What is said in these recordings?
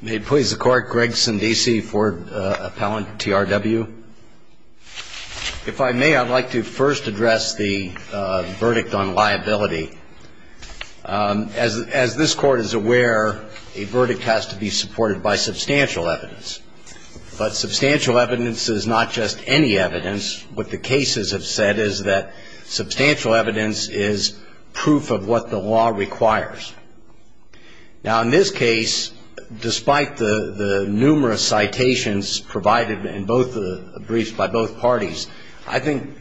May it please the Court, Greg Sundese, Ford Appellant, TRW. If I may, I'd like to first address the verdict on liability. As this Court is aware, a verdict has to be supported by substantial evidence. But substantial evidence is not just any evidence. What the cases have said is that substantial evidence is proof of what the law requires. Now, in this case, despite the numerous citations provided in both the briefs by both parties, I think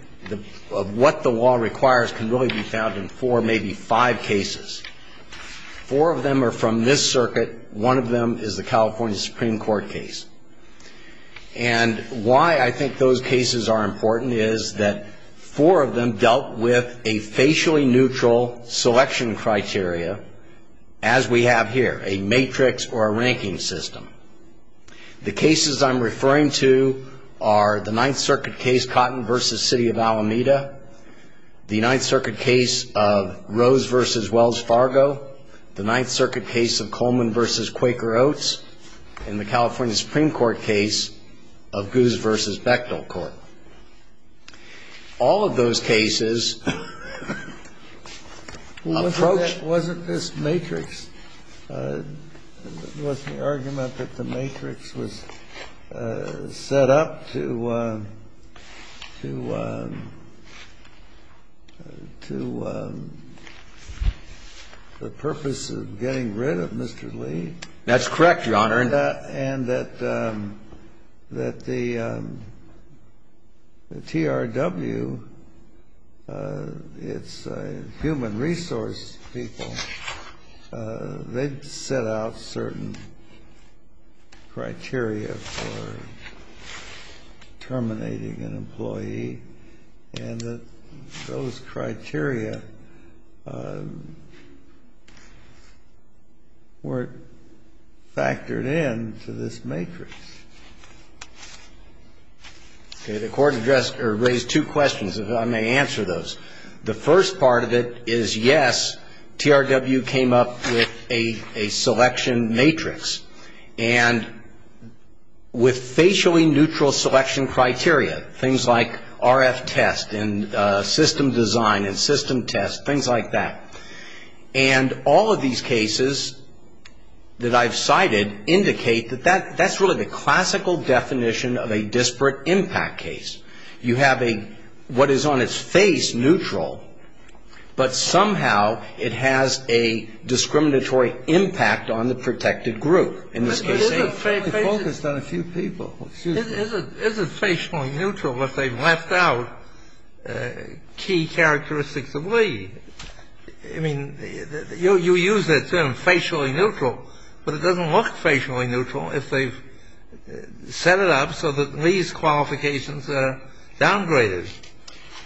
what the law requires can really be found in four, maybe five cases. Four of them are from this circuit. One of them is the California Supreme Court case. And why I think those cases are important is that four of them dealt with a facially neutral selection criteria as we have here, a matrix or a ranking system. The cases I'm referring to are the Ninth Circuit case Cotton v. City of Alameda, the Ninth Circuit case of Rose v. Wells Fargo, the Ninth Circuit case of Coleman v. Quaker Oats, and the California Supreme Court case of Goose v. Bechdel Court. All of those cases approach... Wasn't this matrix, wasn't the argument that the matrix was set up to, to, to the purpose of getting rid of Mr. Lee? That's correct, Your Honor. And that, and that, that the, the TRW, it's human resource people, they set out certain criteria for terminating an employee, and that those criteria weren't factored in. And they weren't factored in to this matrix. Okay. The Court addressed or raised two questions, if I may answer those. The first part of it is, yes, TRW came up with a, a selection matrix. And with facially neutral selection criteria, things like RF test and system design and system test, things like that. And all of these cases that I've cited indicate that that, that's really the classical definition of a disparate impact case. You have a, what is on its face neutral, but somehow it has a discriminatory impact on the protected group. In this case, they focused on a few people. Isn't, isn't, isn't facial neutral if they've left out key characteristics of Lee? I mean, you, you use that term facially neutral, but it doesn't look facially neutral if they've set it up so that Lee's qualifications are downgraded.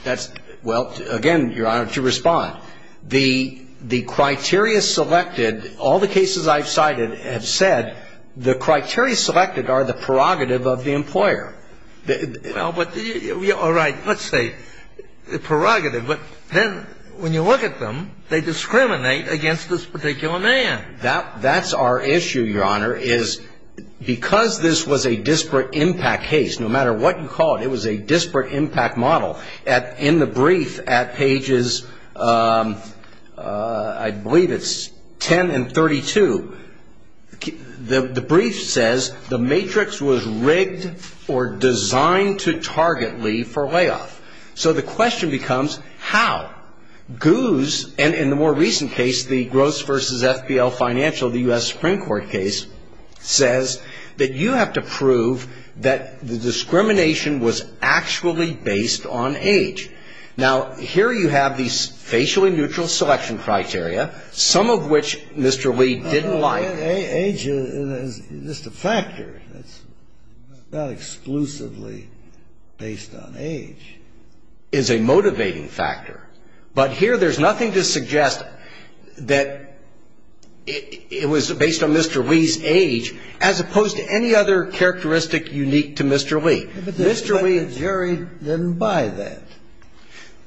That's, well, again, Your Honor, to respond, the, the criteria selected, all the cases I've cited have said the criteria selected are the prerogative of the employer. Well, but, all right, let's say the prerogative. But then when you look at them, they discriminate against this particular man. That, that's our issue, Your Honor, is because this was a disparate impact case, no matter what you call it, it was a disparate impact model. At, in the brief at pages, I believe it's 10 and 32, the brief says the matrix was rigged or designed to target Lee for layoff. So the question becomes how. Guz, and in the more recent case, the Gross v. FPL Financial, the U.S. Supreme Court case, says that you have to prove that the discrimination was actually based on age. Now, here you have these facially neutral selection criteria, some of which Mr. Lee didn't like. Well, age is just a factor. It's not exclusively based on age. It's a motivating factor. But here there's nothing to suggest that it was based on Mr. Lee's age, as opposed to any other characteristic unique to Mr. Lee. But the jury didn't buy that.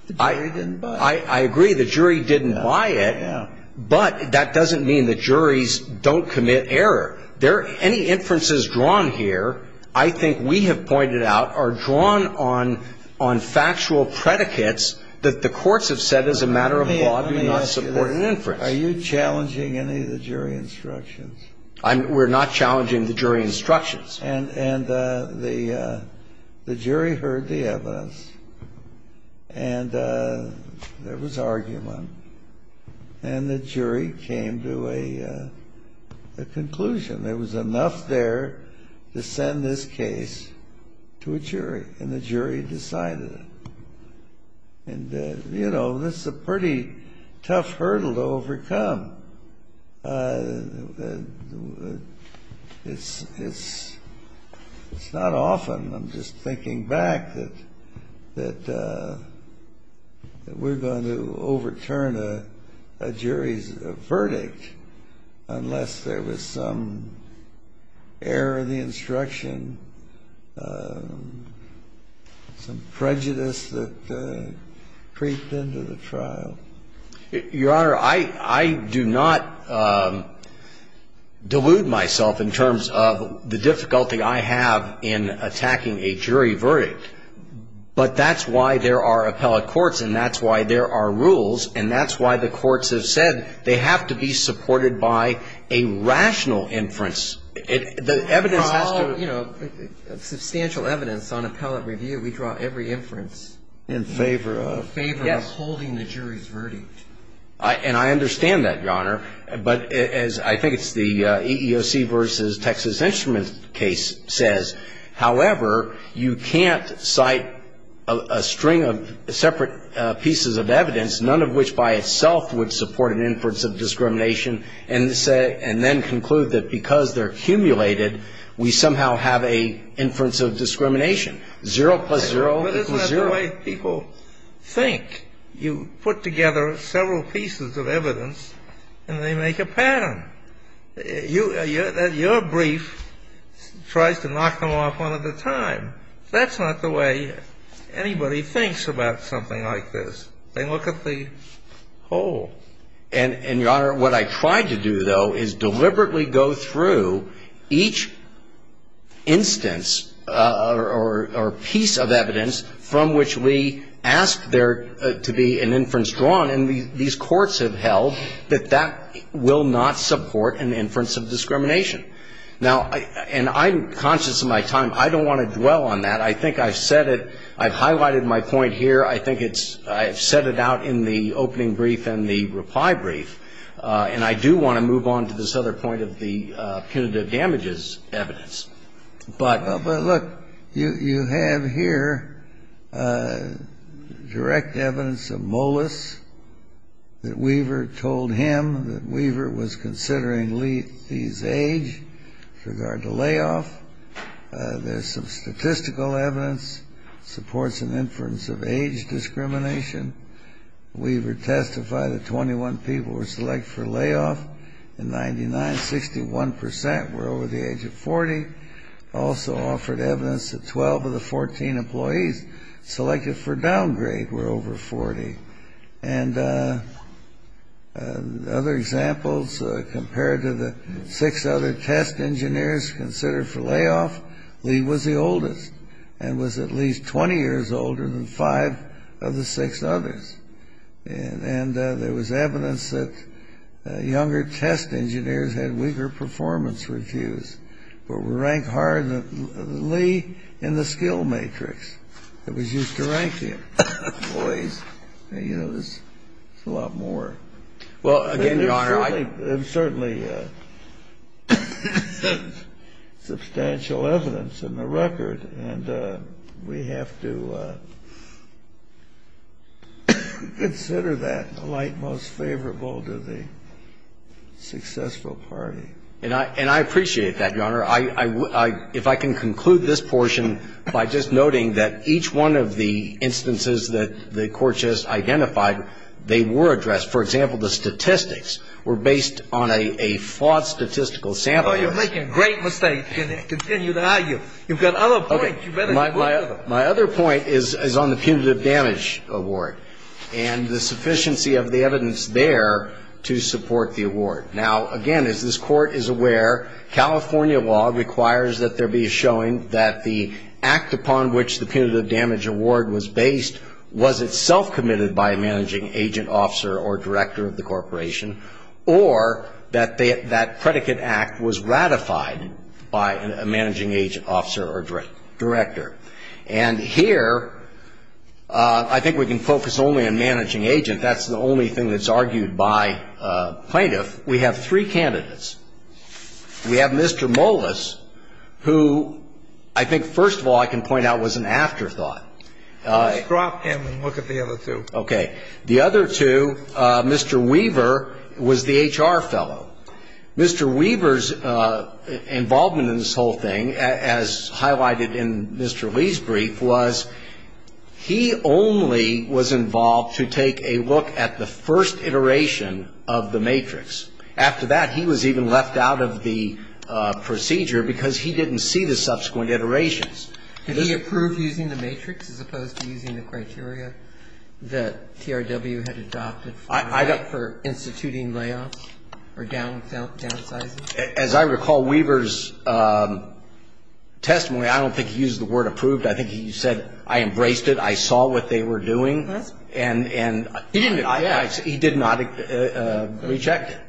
The jury didn't buy it. But that doesn't mean the juries don't commit error. Any inferences drawn here, I think we have pointed out, are drawn on factual predicates that the courts have said as a matter of law do not support an inference. Are you challenging any of the jury instructions? We're not challenging the jury instructions. And the jury heard the evidence, and there was argument, and the jury came to a conclusion. There was enough there to send this case to a jury, and the jury decided it. And, you know, this is a pretty tough hurdle to overcome. It's not often, I'm just thinking back, that we're going to overturn a jury's verdict unless there was some error in the instruction, some prejudice that creeped into the trial. Your Honor, I do not delude myself in terms of the difficulty I have in attacking a jury verdict. But that's why there are appellate courts, and that's why there are rules, and that's why the courts have said they have to be supported by a rational inference. The evidence has to be ---- You know, substantial evidence on appellate review, we draw every inference. In favor of ---- In favor of the jury's verdict. And I understand that, Your Honor. But as I think it's the EEOC v. Texas Instruments case says, however, you can't cite a string of separate pieces of evidence, none of which by itself would support an inference of discrimination, and then conclude that because they're cumulated, we somehow have an inference of discrimination. Zero plus zero equals zero. But isn't that the way people think? You put together several pieces of evidence, and they make a pattern. Your brief tries to knock them off one at a time. That's not the way anybody thinks about something like this. They look at the whole. And, Your Honor, what I try to do, though, is deliberately go through each instance or piece of evidence from which we ask there to be an inference drawn, and these courts have held that that will not support an inference of discrimination. Now, and I'm conscious of my time. I don't want to dwell on that. I think I've said it. I've highlighted my point here. I think it's – I've said it out in the opening brief and the reply brief. And I do want to move on to this other point of the punitive damages evidence. But – But, look, you have here direct evidence of Molis that Weaver told him that Weaver was considering Lethe's age with regard to layoff. There's some statistical evidence. It supports an inference of age discrimination. Weaver testified that 21 people were selected for layoff in 1999. Sixty-one percent were over the age of 40. It also offered evidence that 12 of the 14 employees selected for downgrade were over 40. And other examples compared to the six other test engineers considered for layoff, Lee was the oldest and was at least 20 years older than five of the six others. And there was evidence that younger test engineers had weaker performance reviews were ranked higher than Lee in the skill matrix that was used to rank employees. And, you know, there's a lot more. Well, again, Your Honor, I – And there's certainly substantial evidence in the record. And we have to consider that the light most favorable to the successful party. And I appreciate that, Your Honor. If I can conclude this portion by just noting that each one of the instances that the Court just identified, they were addressed. For example, the statistics were based on a flawed statistical sample. Oh, you're making a great mistake. Continue to argue. You've got other points. Okay. My other point is on the punitive damage award and the sufficiency of the evidence there to support the award. Now, again, as this Court is aware, California law requires that there be a showing that the act upon which the punitive damage award was based was itself committed by a managing agent, officer, or director of the corporation, or that that predicate act was ratified by a managing agent, officer, or director. And here, I think we can focus only on managing agent. That's the only thing that's argued by plaintiff. We have three candidates. We have Mr. Molas, who I think, first of all, I can point out was an afterthought. Let's drop him and look at the other two. Okay. The other two, Mr. Weaver was the HR fellow. Mr. Weaver's involvement in this whole thing, as highlighted in Mr. Lee's brief, was he only was involved to take a look at the first iteration of the matrix. After that, he was even left out of the procedure because he didn't see the subsequent iterations. Did he approve using the matrix as opposed to using the criteria that TRW had adopted for instituting layoffs or downsizing? As I recall Weaver's testimony, I don't think he used the word approved. I think he said, I embraced it, I saw what they were doing, and he did not reject it.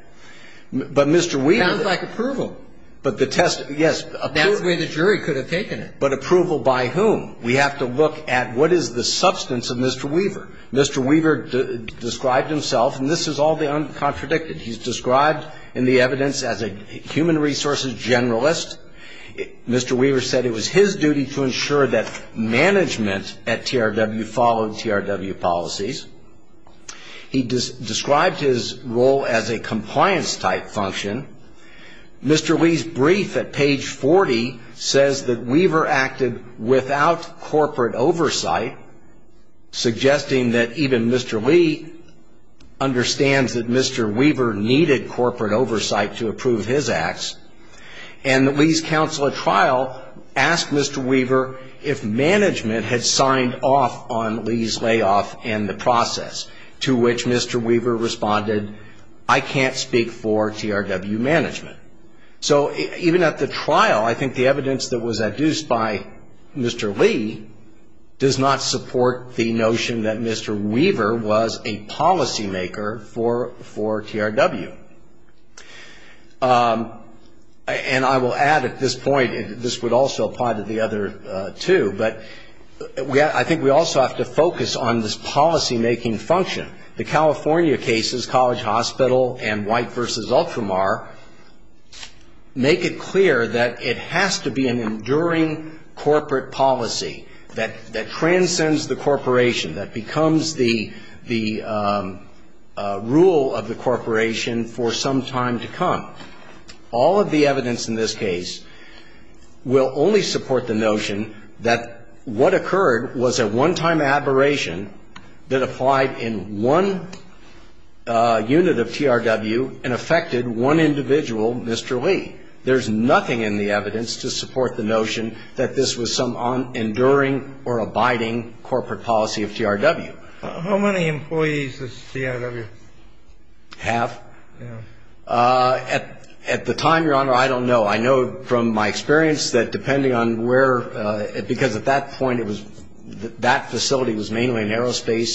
But Mr. Weaver. Sounds like approval. But the test, yes. That's the way the jury could have taken it. But approval by whom? We have to look at what is the substance of Mr. Weaver. Mr. Weaver described himself, and this is all the uncontradicted. He's described in the evidence as a human resources generalist. Mr. Weaver said it was his duty to ensure that management at TRW followed TRW policies. He described his role as a compliance-type function. Mr. Lee's brief at page 40 says that Weaver acted without corporate oversight, suggesting that even Mr. Lee understands that Mr. Weaver needed corporate oversight to approve his acts, and Lee's counsel at trial asked Mr. Weaver if management had signed off on Lee's layoff and the process, to which Mr. Weaver responded, I can't speak for TRW management. So even at the trial, I think the evidence that was adduced by Mr. Lee does not support the notion that Mr. Lee was a policymaker for TRW. And I will add at this point, this would also apply to the other two, but I think we also have to focus on this policymaking function. The California cases, College Hospital and White v. Ultramar, make it clear that it has to be an enduring corporate policy that transcends the corporation, that becomes the rule of the corporation for some time to come. All of the evidence in this case will only support the notion that what occurred was a one-time aberration that applied in one unit of TRW and affected one individual, Mr. Lee. There's nothing in the evidence to support the notion that this was some enduring or abiding corporate policy of TRW. How many employees does TRW have? At the time, Your Honor, I don't know. I know from my experience that depending on where, because at that point, that facility was mainly in aerospace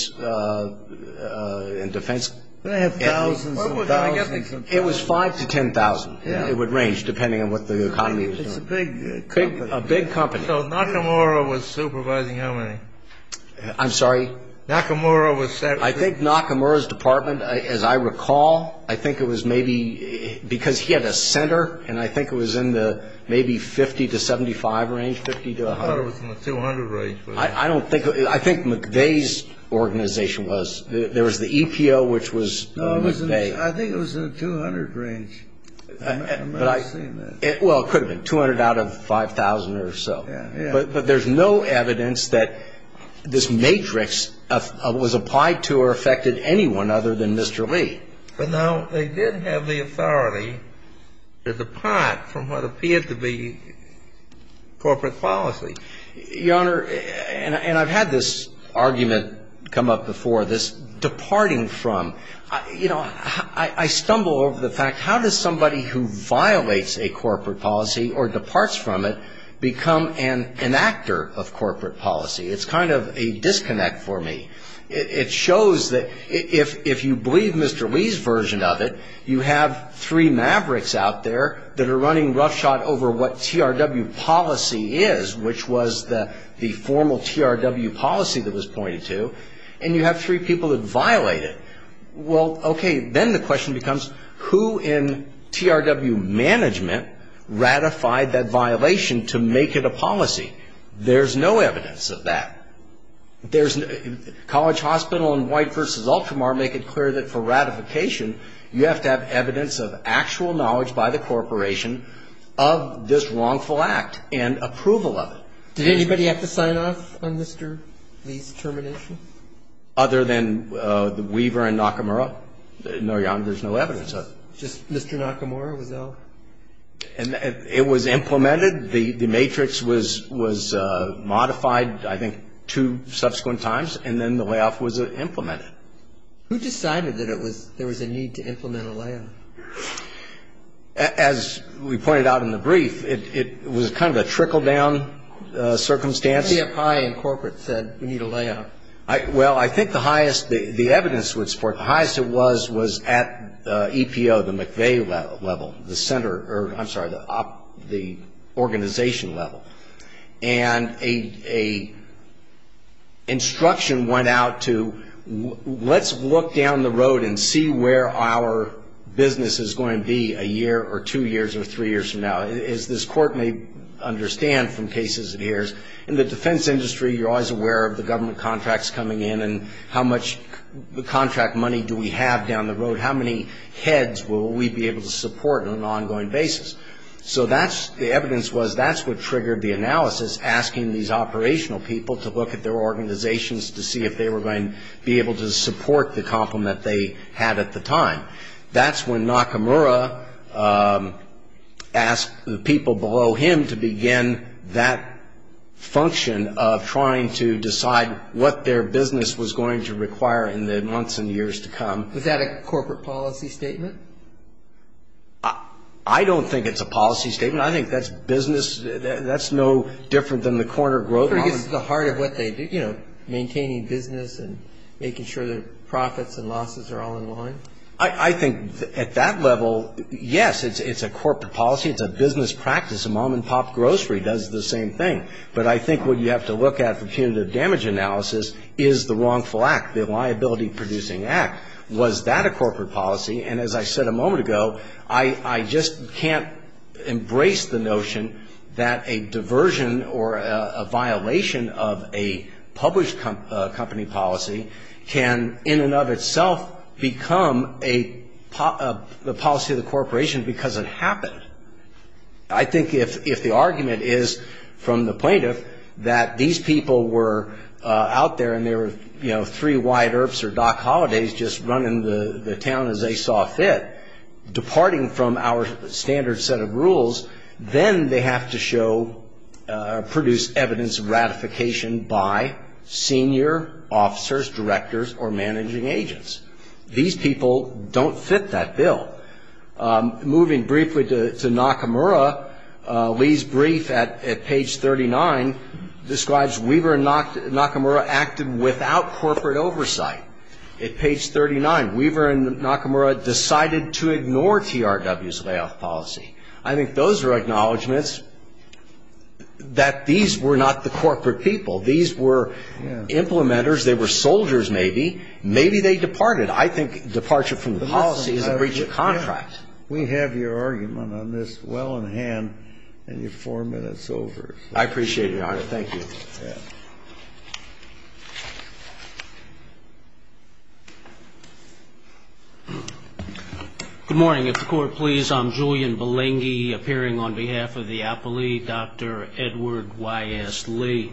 and defense. They have thousands and thousands. It was 5 to 10,000. It would range depending on what the economy was doing. It's a big company. A big company. So Nakamura was supervising how many? I'm sorry? Nakamura was. I think Nakamura's department, as I recall, I think it was maybe because he had a center, and I think it was in the maybe 50 to 75 range, 50 to 100. I thought it was in the 200 range. I don't think. I think McVeigh's organization was. There was the EPO, which was McVeigh. I think it was in the 200 range. I've never seen that. Well, it could have been. 200 out of 5,000 or so. Yeah. But there's no evidence that this matrix was applied to or affected anyone other than Mr. Lee. But now they did have the authority to depart from what appeared to be corporate policy. Your Honor, and I've had this argument come up before, this departing from. I stumble over the fact, how does somebody who violates a corporate policy or departs from it become an enactor of corporate policy? It's kind of a disconnect for me. It shows that if you believe Mr. Lee's version of it, you have three mavericks out there that are running roughshod over what TRW policy is, which was the formal TRW policy that was pointed to, and you have three people that violate it. Well, okay, then the question becomes, who in TRW management ratified that violation to make it a policy? There's no evidence of that. College Hospital and White v. Ultramar make it clear that for ratification, you have to have evidence of actual knowledge by the corporation of this wrongful act and approval of it. Did anybody have to sign off on Mr. Lee's termination? Other than Weaver and Nakamura. No, Your Honor, there's no evidence of it. Just Mr. Nakamura was all? It was implemented. The matrix was modified, I think, two subsequent times, and then the layoff was implemented. Who decided that there was a need to implement a layoff? As we pointed out in the brief, it was kind of a trickle-down circumstance. CFI and corporate said we need a layoff. Well, I think the evidence would support it. The highest it was was at EPO, the McVeigh level, the organization level, and a instruction went out to let's look down the road and see where our business is going to be a year or two years or three years from now, as this Court may understand from cases of years. In the defense industry, you're always aware of the government contracts coming in and how much contract money do we have down the road, how many heads will we be able to support on an ongoing basis. So the evidence was that's what triggered the analysis, asking these operational people to look at their organizations to see if they were going to be able to support the compliment they had at the time. That's when Nakamura asked the people below him to begin that function of trying to decide what their business was going to require in the months and years to come. Was that a corporate policy statement? I don't think it's a policy statement. I think that's business. That's no different than the corner grocery. I'm sure it gets to the heart of what they do, you know, maintaining business and making sure that profits and losses are all in line. I think at that level, yes, it's a corporate policy. It's a business practice. A mom-and-pop grocery does the same thing. But I think what you have to look at for punitive damage analysis is the wrongful act, the liability-producing act. Was that a corporate policy? And as I said a moment ago, I just can't embrace the notion that a diversion or a violation of a published company policy can, in and of itself, become a policy of the corporation because it happened. I think if the argument is from the plaintiff that these people were out there and there were, you know, just running the town as they saw fit, departing from our standard set of rules, then they have to show or produce evidence of ratification by senior officers, directors, or managing agents. These people don't fit that bill. Moving briefly to Nakamura, Lee's brief at page 39 describes Weaver and Nakamura acted without corporate oversight. At page 39, Weaver and Nakamura decided to ignore TRW's layoff policy. I think those are acknowledgments that these were not the corporate people. These were implementers. They were soldiers, maybe. Maybe they departed. I think departure from the policy is a breach of contract. We have your argument on this well in hand, and you're four minutes over. I appreciate it, Your Honor. Thank you. Good morning. If the Court please, I'm Julian Balingi, appearing on behalf of the appellee, Dr. Edward Y.S. Lee.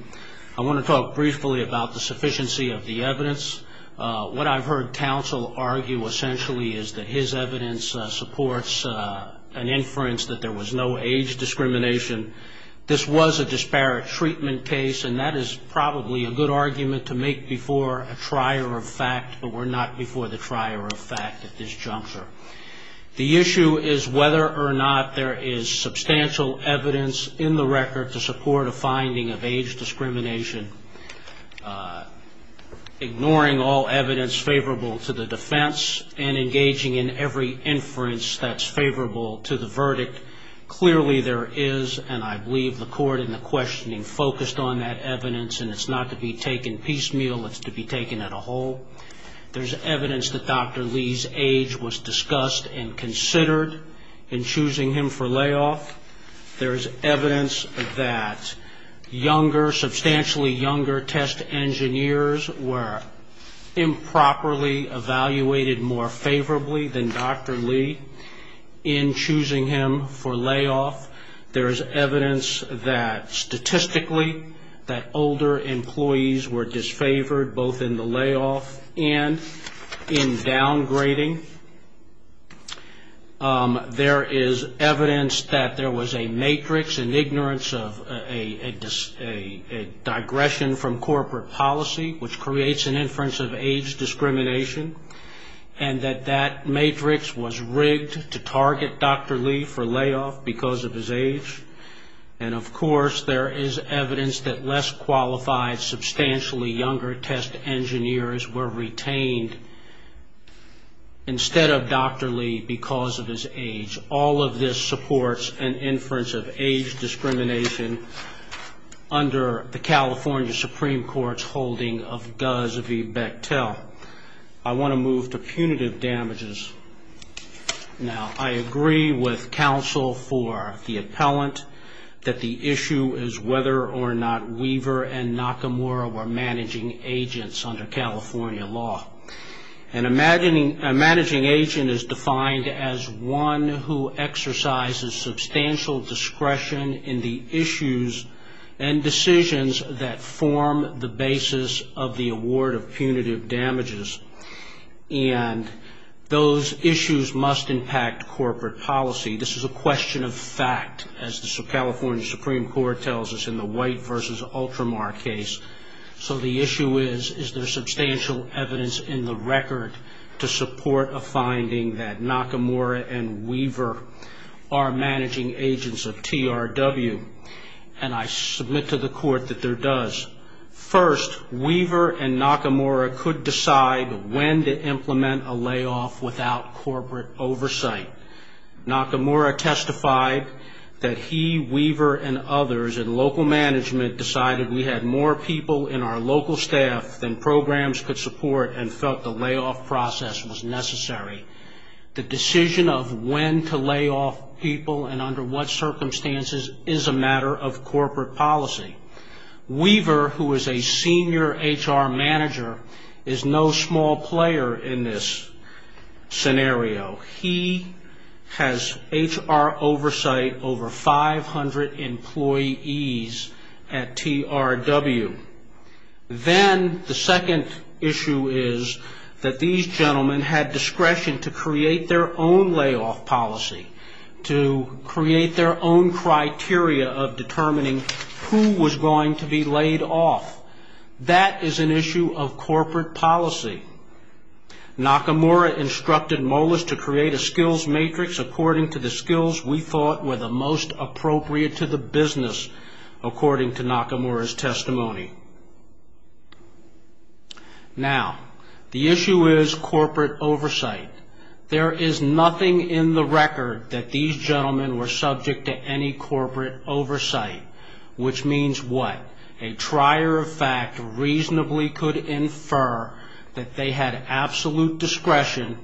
I want to talk briefly about the sufficiency of the evidence. What I've heard counsel argue essentially is that his evidence supports an inference that there was no age discrimination. This was a disparate treatment case, and that is probably a good argument to make before a trier of fact, but we're not before the trier of fact at this juncture. The issue is whether or not there is substantial evidence in the record to support a finding of age discrimination. Ignoring all evidence favorable to the defense and engaging in every inference that's favorable to the verdict, clearly there is, and I believe the Court in the questioning focused on that evidence, and it's not to be taken piecemeal. It's to be taken as a whole. There's evidence that Dr. Lee's age was discussed and considered in choosing him for layoff. There is evidence that younger, substantially younger test engineers were improperly evaluated more favorably than Dr. Lee in choosing him for layoff. There is evidence that statistically that older employees were disfavored both in the layoff and in downgrading. There is evidence that there was a matrix and ignorance of a digression from corporate policy, which creates an inference of age discrimination, and that that matrix was rigged to target Dr. Lee for layoff because of his age. And, of course, there is evidence that less qualified, substantially younger test engineers were retained instead of Dr. Lee because of his age. All of this supports an inference of age discrimination under the California Supreme Court's holding of Guz v. Bechtel. I want to move to punitive damages. Now, I agree with counsel for the appellant that the issue is whether or not Weaver and Nakamura were managing agents under California law. A managing agent is defined as one who exercises substantial discretion in the issues and decisions that form the basis of the award of punitive damages. And those issues must impact corporate policy. This is a question of fact, as the California Supreme Court tells us in the White v. Ultramar case. So the issue is, is there substantial evidence in the record to support a finding that Nakamura and Weaver are managing agents of TRW? And I submit to the court that there does. First, Weaver and Nakamura could decide when to implement a layoff without corporate oversight. Nakamura testified that he, Weaver, and others in local management decided we had more people in our local staff than programs could support and felt the layoff process was necessary. The decision of when to lay off people and under what circumstances is a matter of corporate policy. Weaver, who is a senior HR manager, is no small player in this scenario. He has HR oversight over 500 employees at TRW. Then the second issue is that these gentlemen had discretion to create their own layoff policy, to create their own criteria of determining who was going to be laid off. That is an issue of corporate policy. Nakamura instructed Molas to create a skills matrix according to the skills we thought were the most appropriate to the business, according to Nakamura's testimony. Now, the issue is corporate oversight. There is nothing in the record that these gentlemen were subject to any corporate oversight, which means what? A trier of fact reasonably could infer that they had absolute discretion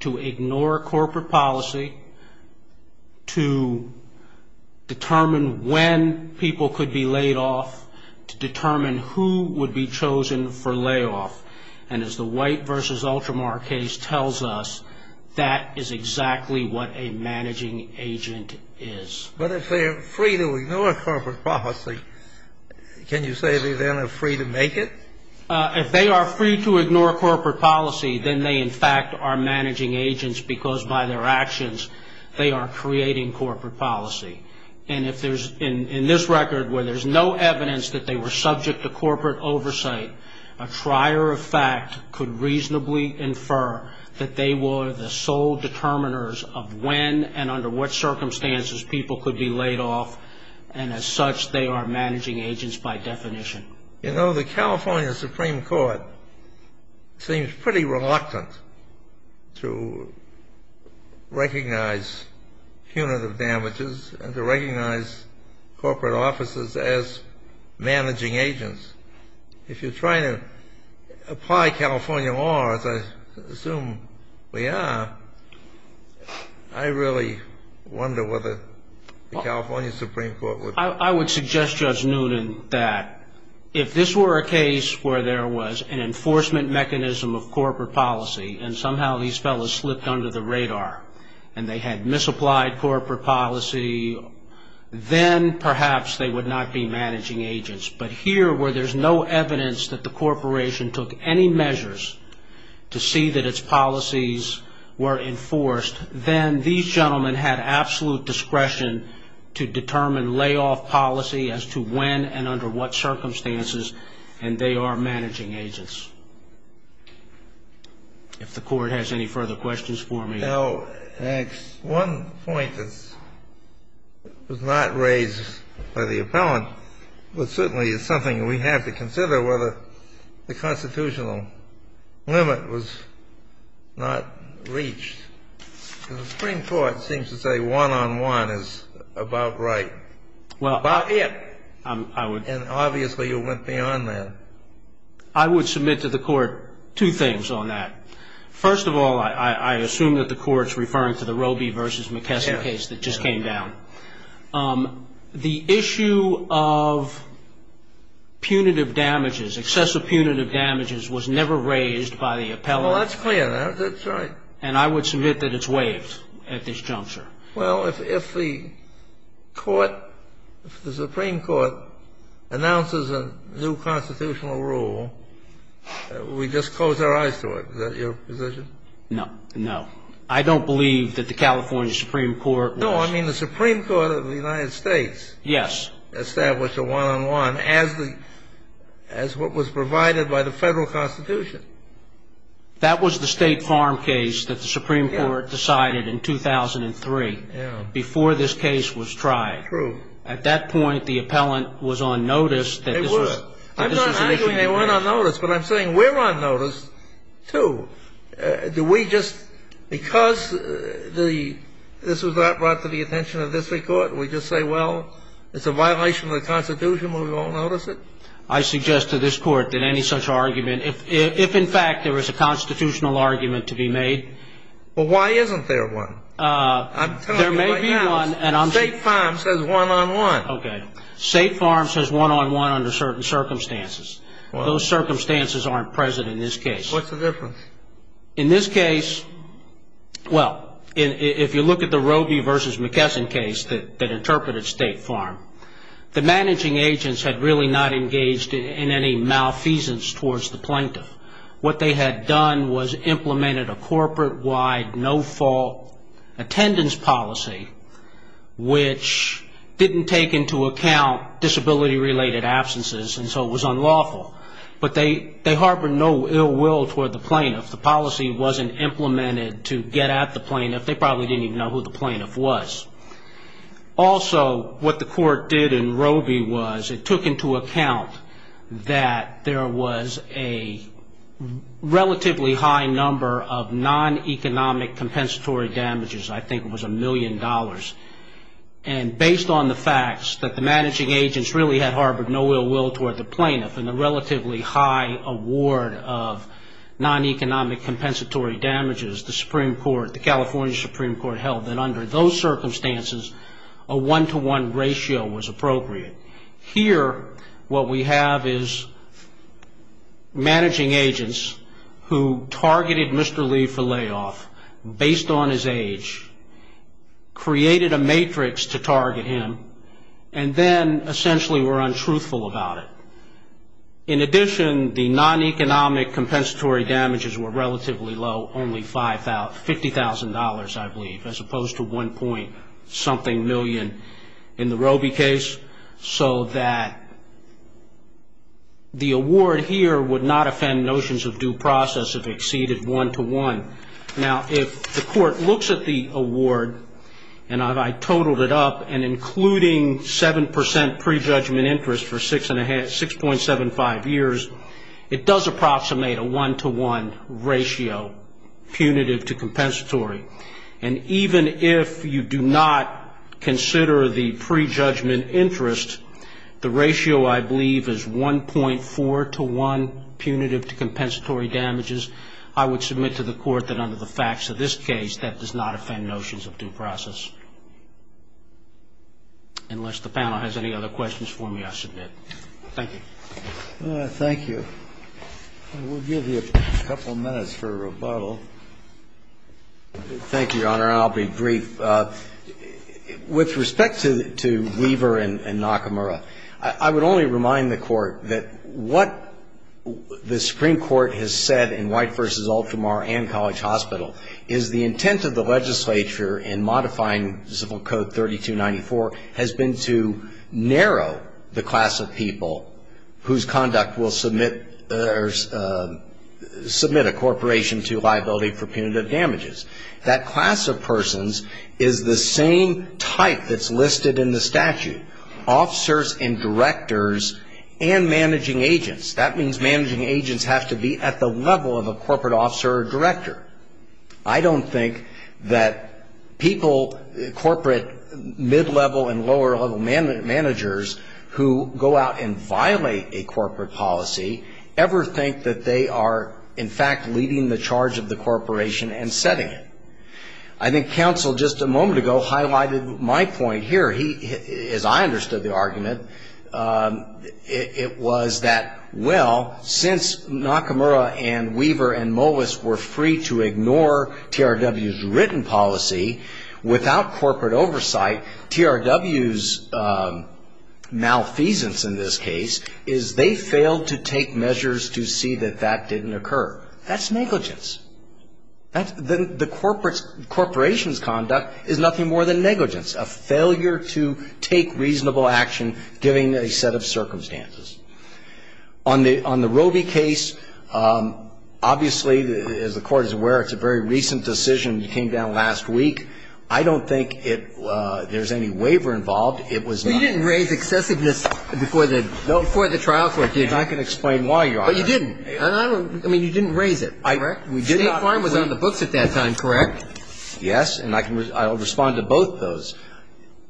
to ignore corporate policy, to determine when people could be laid off, to determine who would be chosen for layoff. And as the White v. Ultramar case tells us, that is exactly what a managing agent is. But if they are free to ignore corporate policy, can you say they then are free to make it? If they are free to ignore corporate policy, then they, in fact, are managing agents because by their actions they are creating corporate policy. And if there's, in this record where there's no evidence that they were subject to corporate oversight, a trier of fact could reasonably infer that they were the sole determiners of when and under what circumstances people could be laid off, and as such they are managing agents by definition. You know, the California Supreme Court seems pretty reluctant to recognize punitive damages and to recognize corporate officers as managing agents. If you're trying to apply California law, as I assume we are, I really wonder whether the California Supreme Court would... I would suggest, Judge Noonan, that if this were a case where there was an enforcement mechanism of corporate policy and somehow these fellows slipped under the radar and they had misapplied corporate policy, then perhaps they would not be managing agents. But here where there's no evidence that the corporation took any measures to see that its policies were enforced, then these gentlemen had absolute discretion to determine layoff policy as to when and under what circumstances, and they are managing agents. If the Court has any further questions for me. Now, one point that was not raised by the appellant, but certainly it's something we have to consider, whether the constitutional limit was not reached. The Supreme Court seems to say one-on-one is about right, about it. I would... And obviously you went beyond that. I would submit to the Court two things on that. First of all, I assume that the Court's referring to the Roby v. McKesson case that just came down. Yes. The issue of punitive damages, excessive punitive damages was never raised by the appellant. Well, that's clear now. That's right. And I would submit that it's waived at this juncture. Well, if the Court, if the Supreme Court announces a new constitutional rule, we just close our eyes to it. Is that your position? No. No. I don't believe that the California Supreme Court was... No, I mean the Supreme Court of the United States... Yes. ...established a one-on-one as the, as what was provided by the Federal Constitution. That was the State Farm case that the Supreme Court decided in 2003... Yes. ...before this case was tried. True. At that point, the appellant was on notice that this was... They were. I'm not arguing they weren't on notice, but I'm saying we're on notice, too. Do we just, because the, this was not brought to the attention of this Court, we just say, well, it's a violation of the Constitution, we won't notice it? I suggest to this Court that any such argument, if in fact there was a constitutional argument to be made... Well, why isn't there one? I'm telling you right now... There may be one, and I'm... State Farm says one-on-one. Okay. State Farm says one-on-one under certain circumstances. Those circumstances aren't present in this case. What's the difference? In this case, well, if you look at the Roby v. McKesson case that interpreted State Farm, the managing agents had really not engaged in any malfeasance towards the plaintiff. What they had done was implemented a corporate-wide no-fault attendance policy, which didn't take into account disability-related absences, and so it was unlawful. But they harbored no ill will toward the plaintiff. The policy wasn't implemented to get at the plaintiff. They probably didn't even know who the plaintiff was. Also, what the court did in Roby was it took into account that there was a relatively high number of non-economic compensatory damages. I think it was a million dollars. And based on the facts that the managing agents really had harbored no ill will toward the plaintiff and a relatively high award of non-economic compensatory damages, the California Supreme Court held that under those circumstances, a one-to-one ratio was appropriate. Here, what we have is managing agents who targeted Mr. Lee for layoff based on his age, created a matrix to target him, and then essentially were untruthful about it. In addition, the non-economic compensatory damages were relatively low, only $50,000, I believe, as opposed to $1.something million in the Roby case, so that the award here would not offend notions of due process if it exceeded one-to-one. Now, if the court looks at the award, and I totaled it up, and including 7% prejudgment interest for 6.75 years, it does approximate a one-to-one ratio punitive to compensatory. And even if you do not consider the prejudgment interest, the ratio, I believe, is 1.4 to 1 punitive to compensatory damages, I would submit to the court that under the facts of this case, that does not offend notions of due process. Unless the panel has any other questions for me, I submit. Thank you. Thank you. We'll give you a couple of minutes for rebuttal. Thank you, Your Honor, and I'll be brief. With respect to Weaver and Nakamura, I would only remind the court that what the Supreme Court has said in White v. Ultramar and College Hospital is the intent of the legislature in modifying Civil Code 3294 has been to narrow the class of people whose conduct will submit a corporation to liability for punitive damages. That class of persons is the same type that's listed in the statute, officers and directors and managing agents. That means managing agents have to be at the level of a corporate officer or director. I don't think that people, corporate mid-level and lower-level managers who go out and violate a corporate policy ever think that they are, in fact, leading the charge of the corporation and setting it. I think counsel just a moment ago highlighted my point here. He, as I understood the argument, it was that, well, since Nakamura and Weaver and Molis were free to ignore TRW's written policy without corporate oversight, TRW's malfeasance in this case is they failed to take measures to see that that didn't occur. That's negligence. That's the corporation's conduct is nothing more than negligence, a failure to take reasonable action given a set of circumstances. On the Roby case, obviously, as the Court is aware, it's a very recent decision. It came down last week. I don't think there's any waiver involved. It was not. You didn't raise excessiveness before the trial court did. I can explain why you are. But you didn't. I mean, you didn't raise it, correct? State Farm was on the books at that time, correct? Yes. And I can respond to both of those.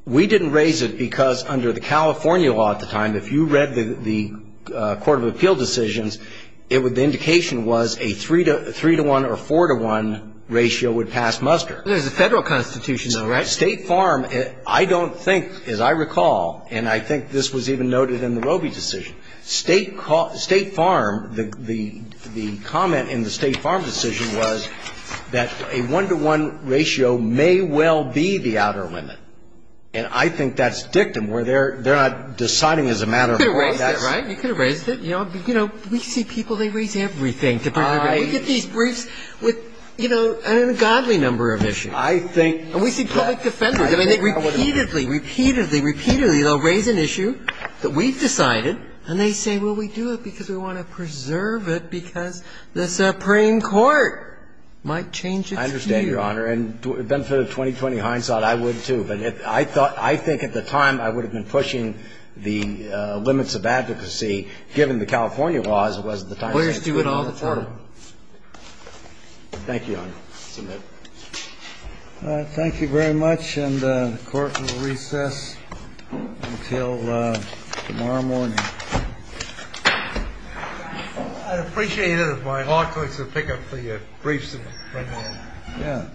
We didn't raise it because under the California law at the time, if you read the court of appeal decisions, the indication was a 3-to-1 or 4-to-1 ratio would pass muster. There's a Federal Constitution though, right? State Farm, I don't think, as I recall, and I think this was even noted in the Roby decision, State Farm, the comment in the State Farm decision was that a 1-to-1 ratio may well be the outer limit. And I think that's dictum where they're not deciding as a matter of law. You could have raised it, right? You could have raised it. You know, we see people, they raise everything. We get these briefs with, you know, a godly number of issues. I think. And we see public defenders. I mean, they repeatedly, repeatedly, repeatedly they'll raise an issue that we've decided and they say, well, we do it because we want to preserve it because the Supreme Court might change its view. I understand, Your Honor. And to the benefit of 20-20 hindsight, I would too. But I thought, I think at the time I would have been pushing the limits of advocacy given the California law as it was at the time. We're going to do it all the time. Thank you, Your Honor. Submit. All right. Thank you very much. And the court will recess until tomorrow morning. I'd appreciate it if my law clerks would pick up the briefs. Yeah. Thank you.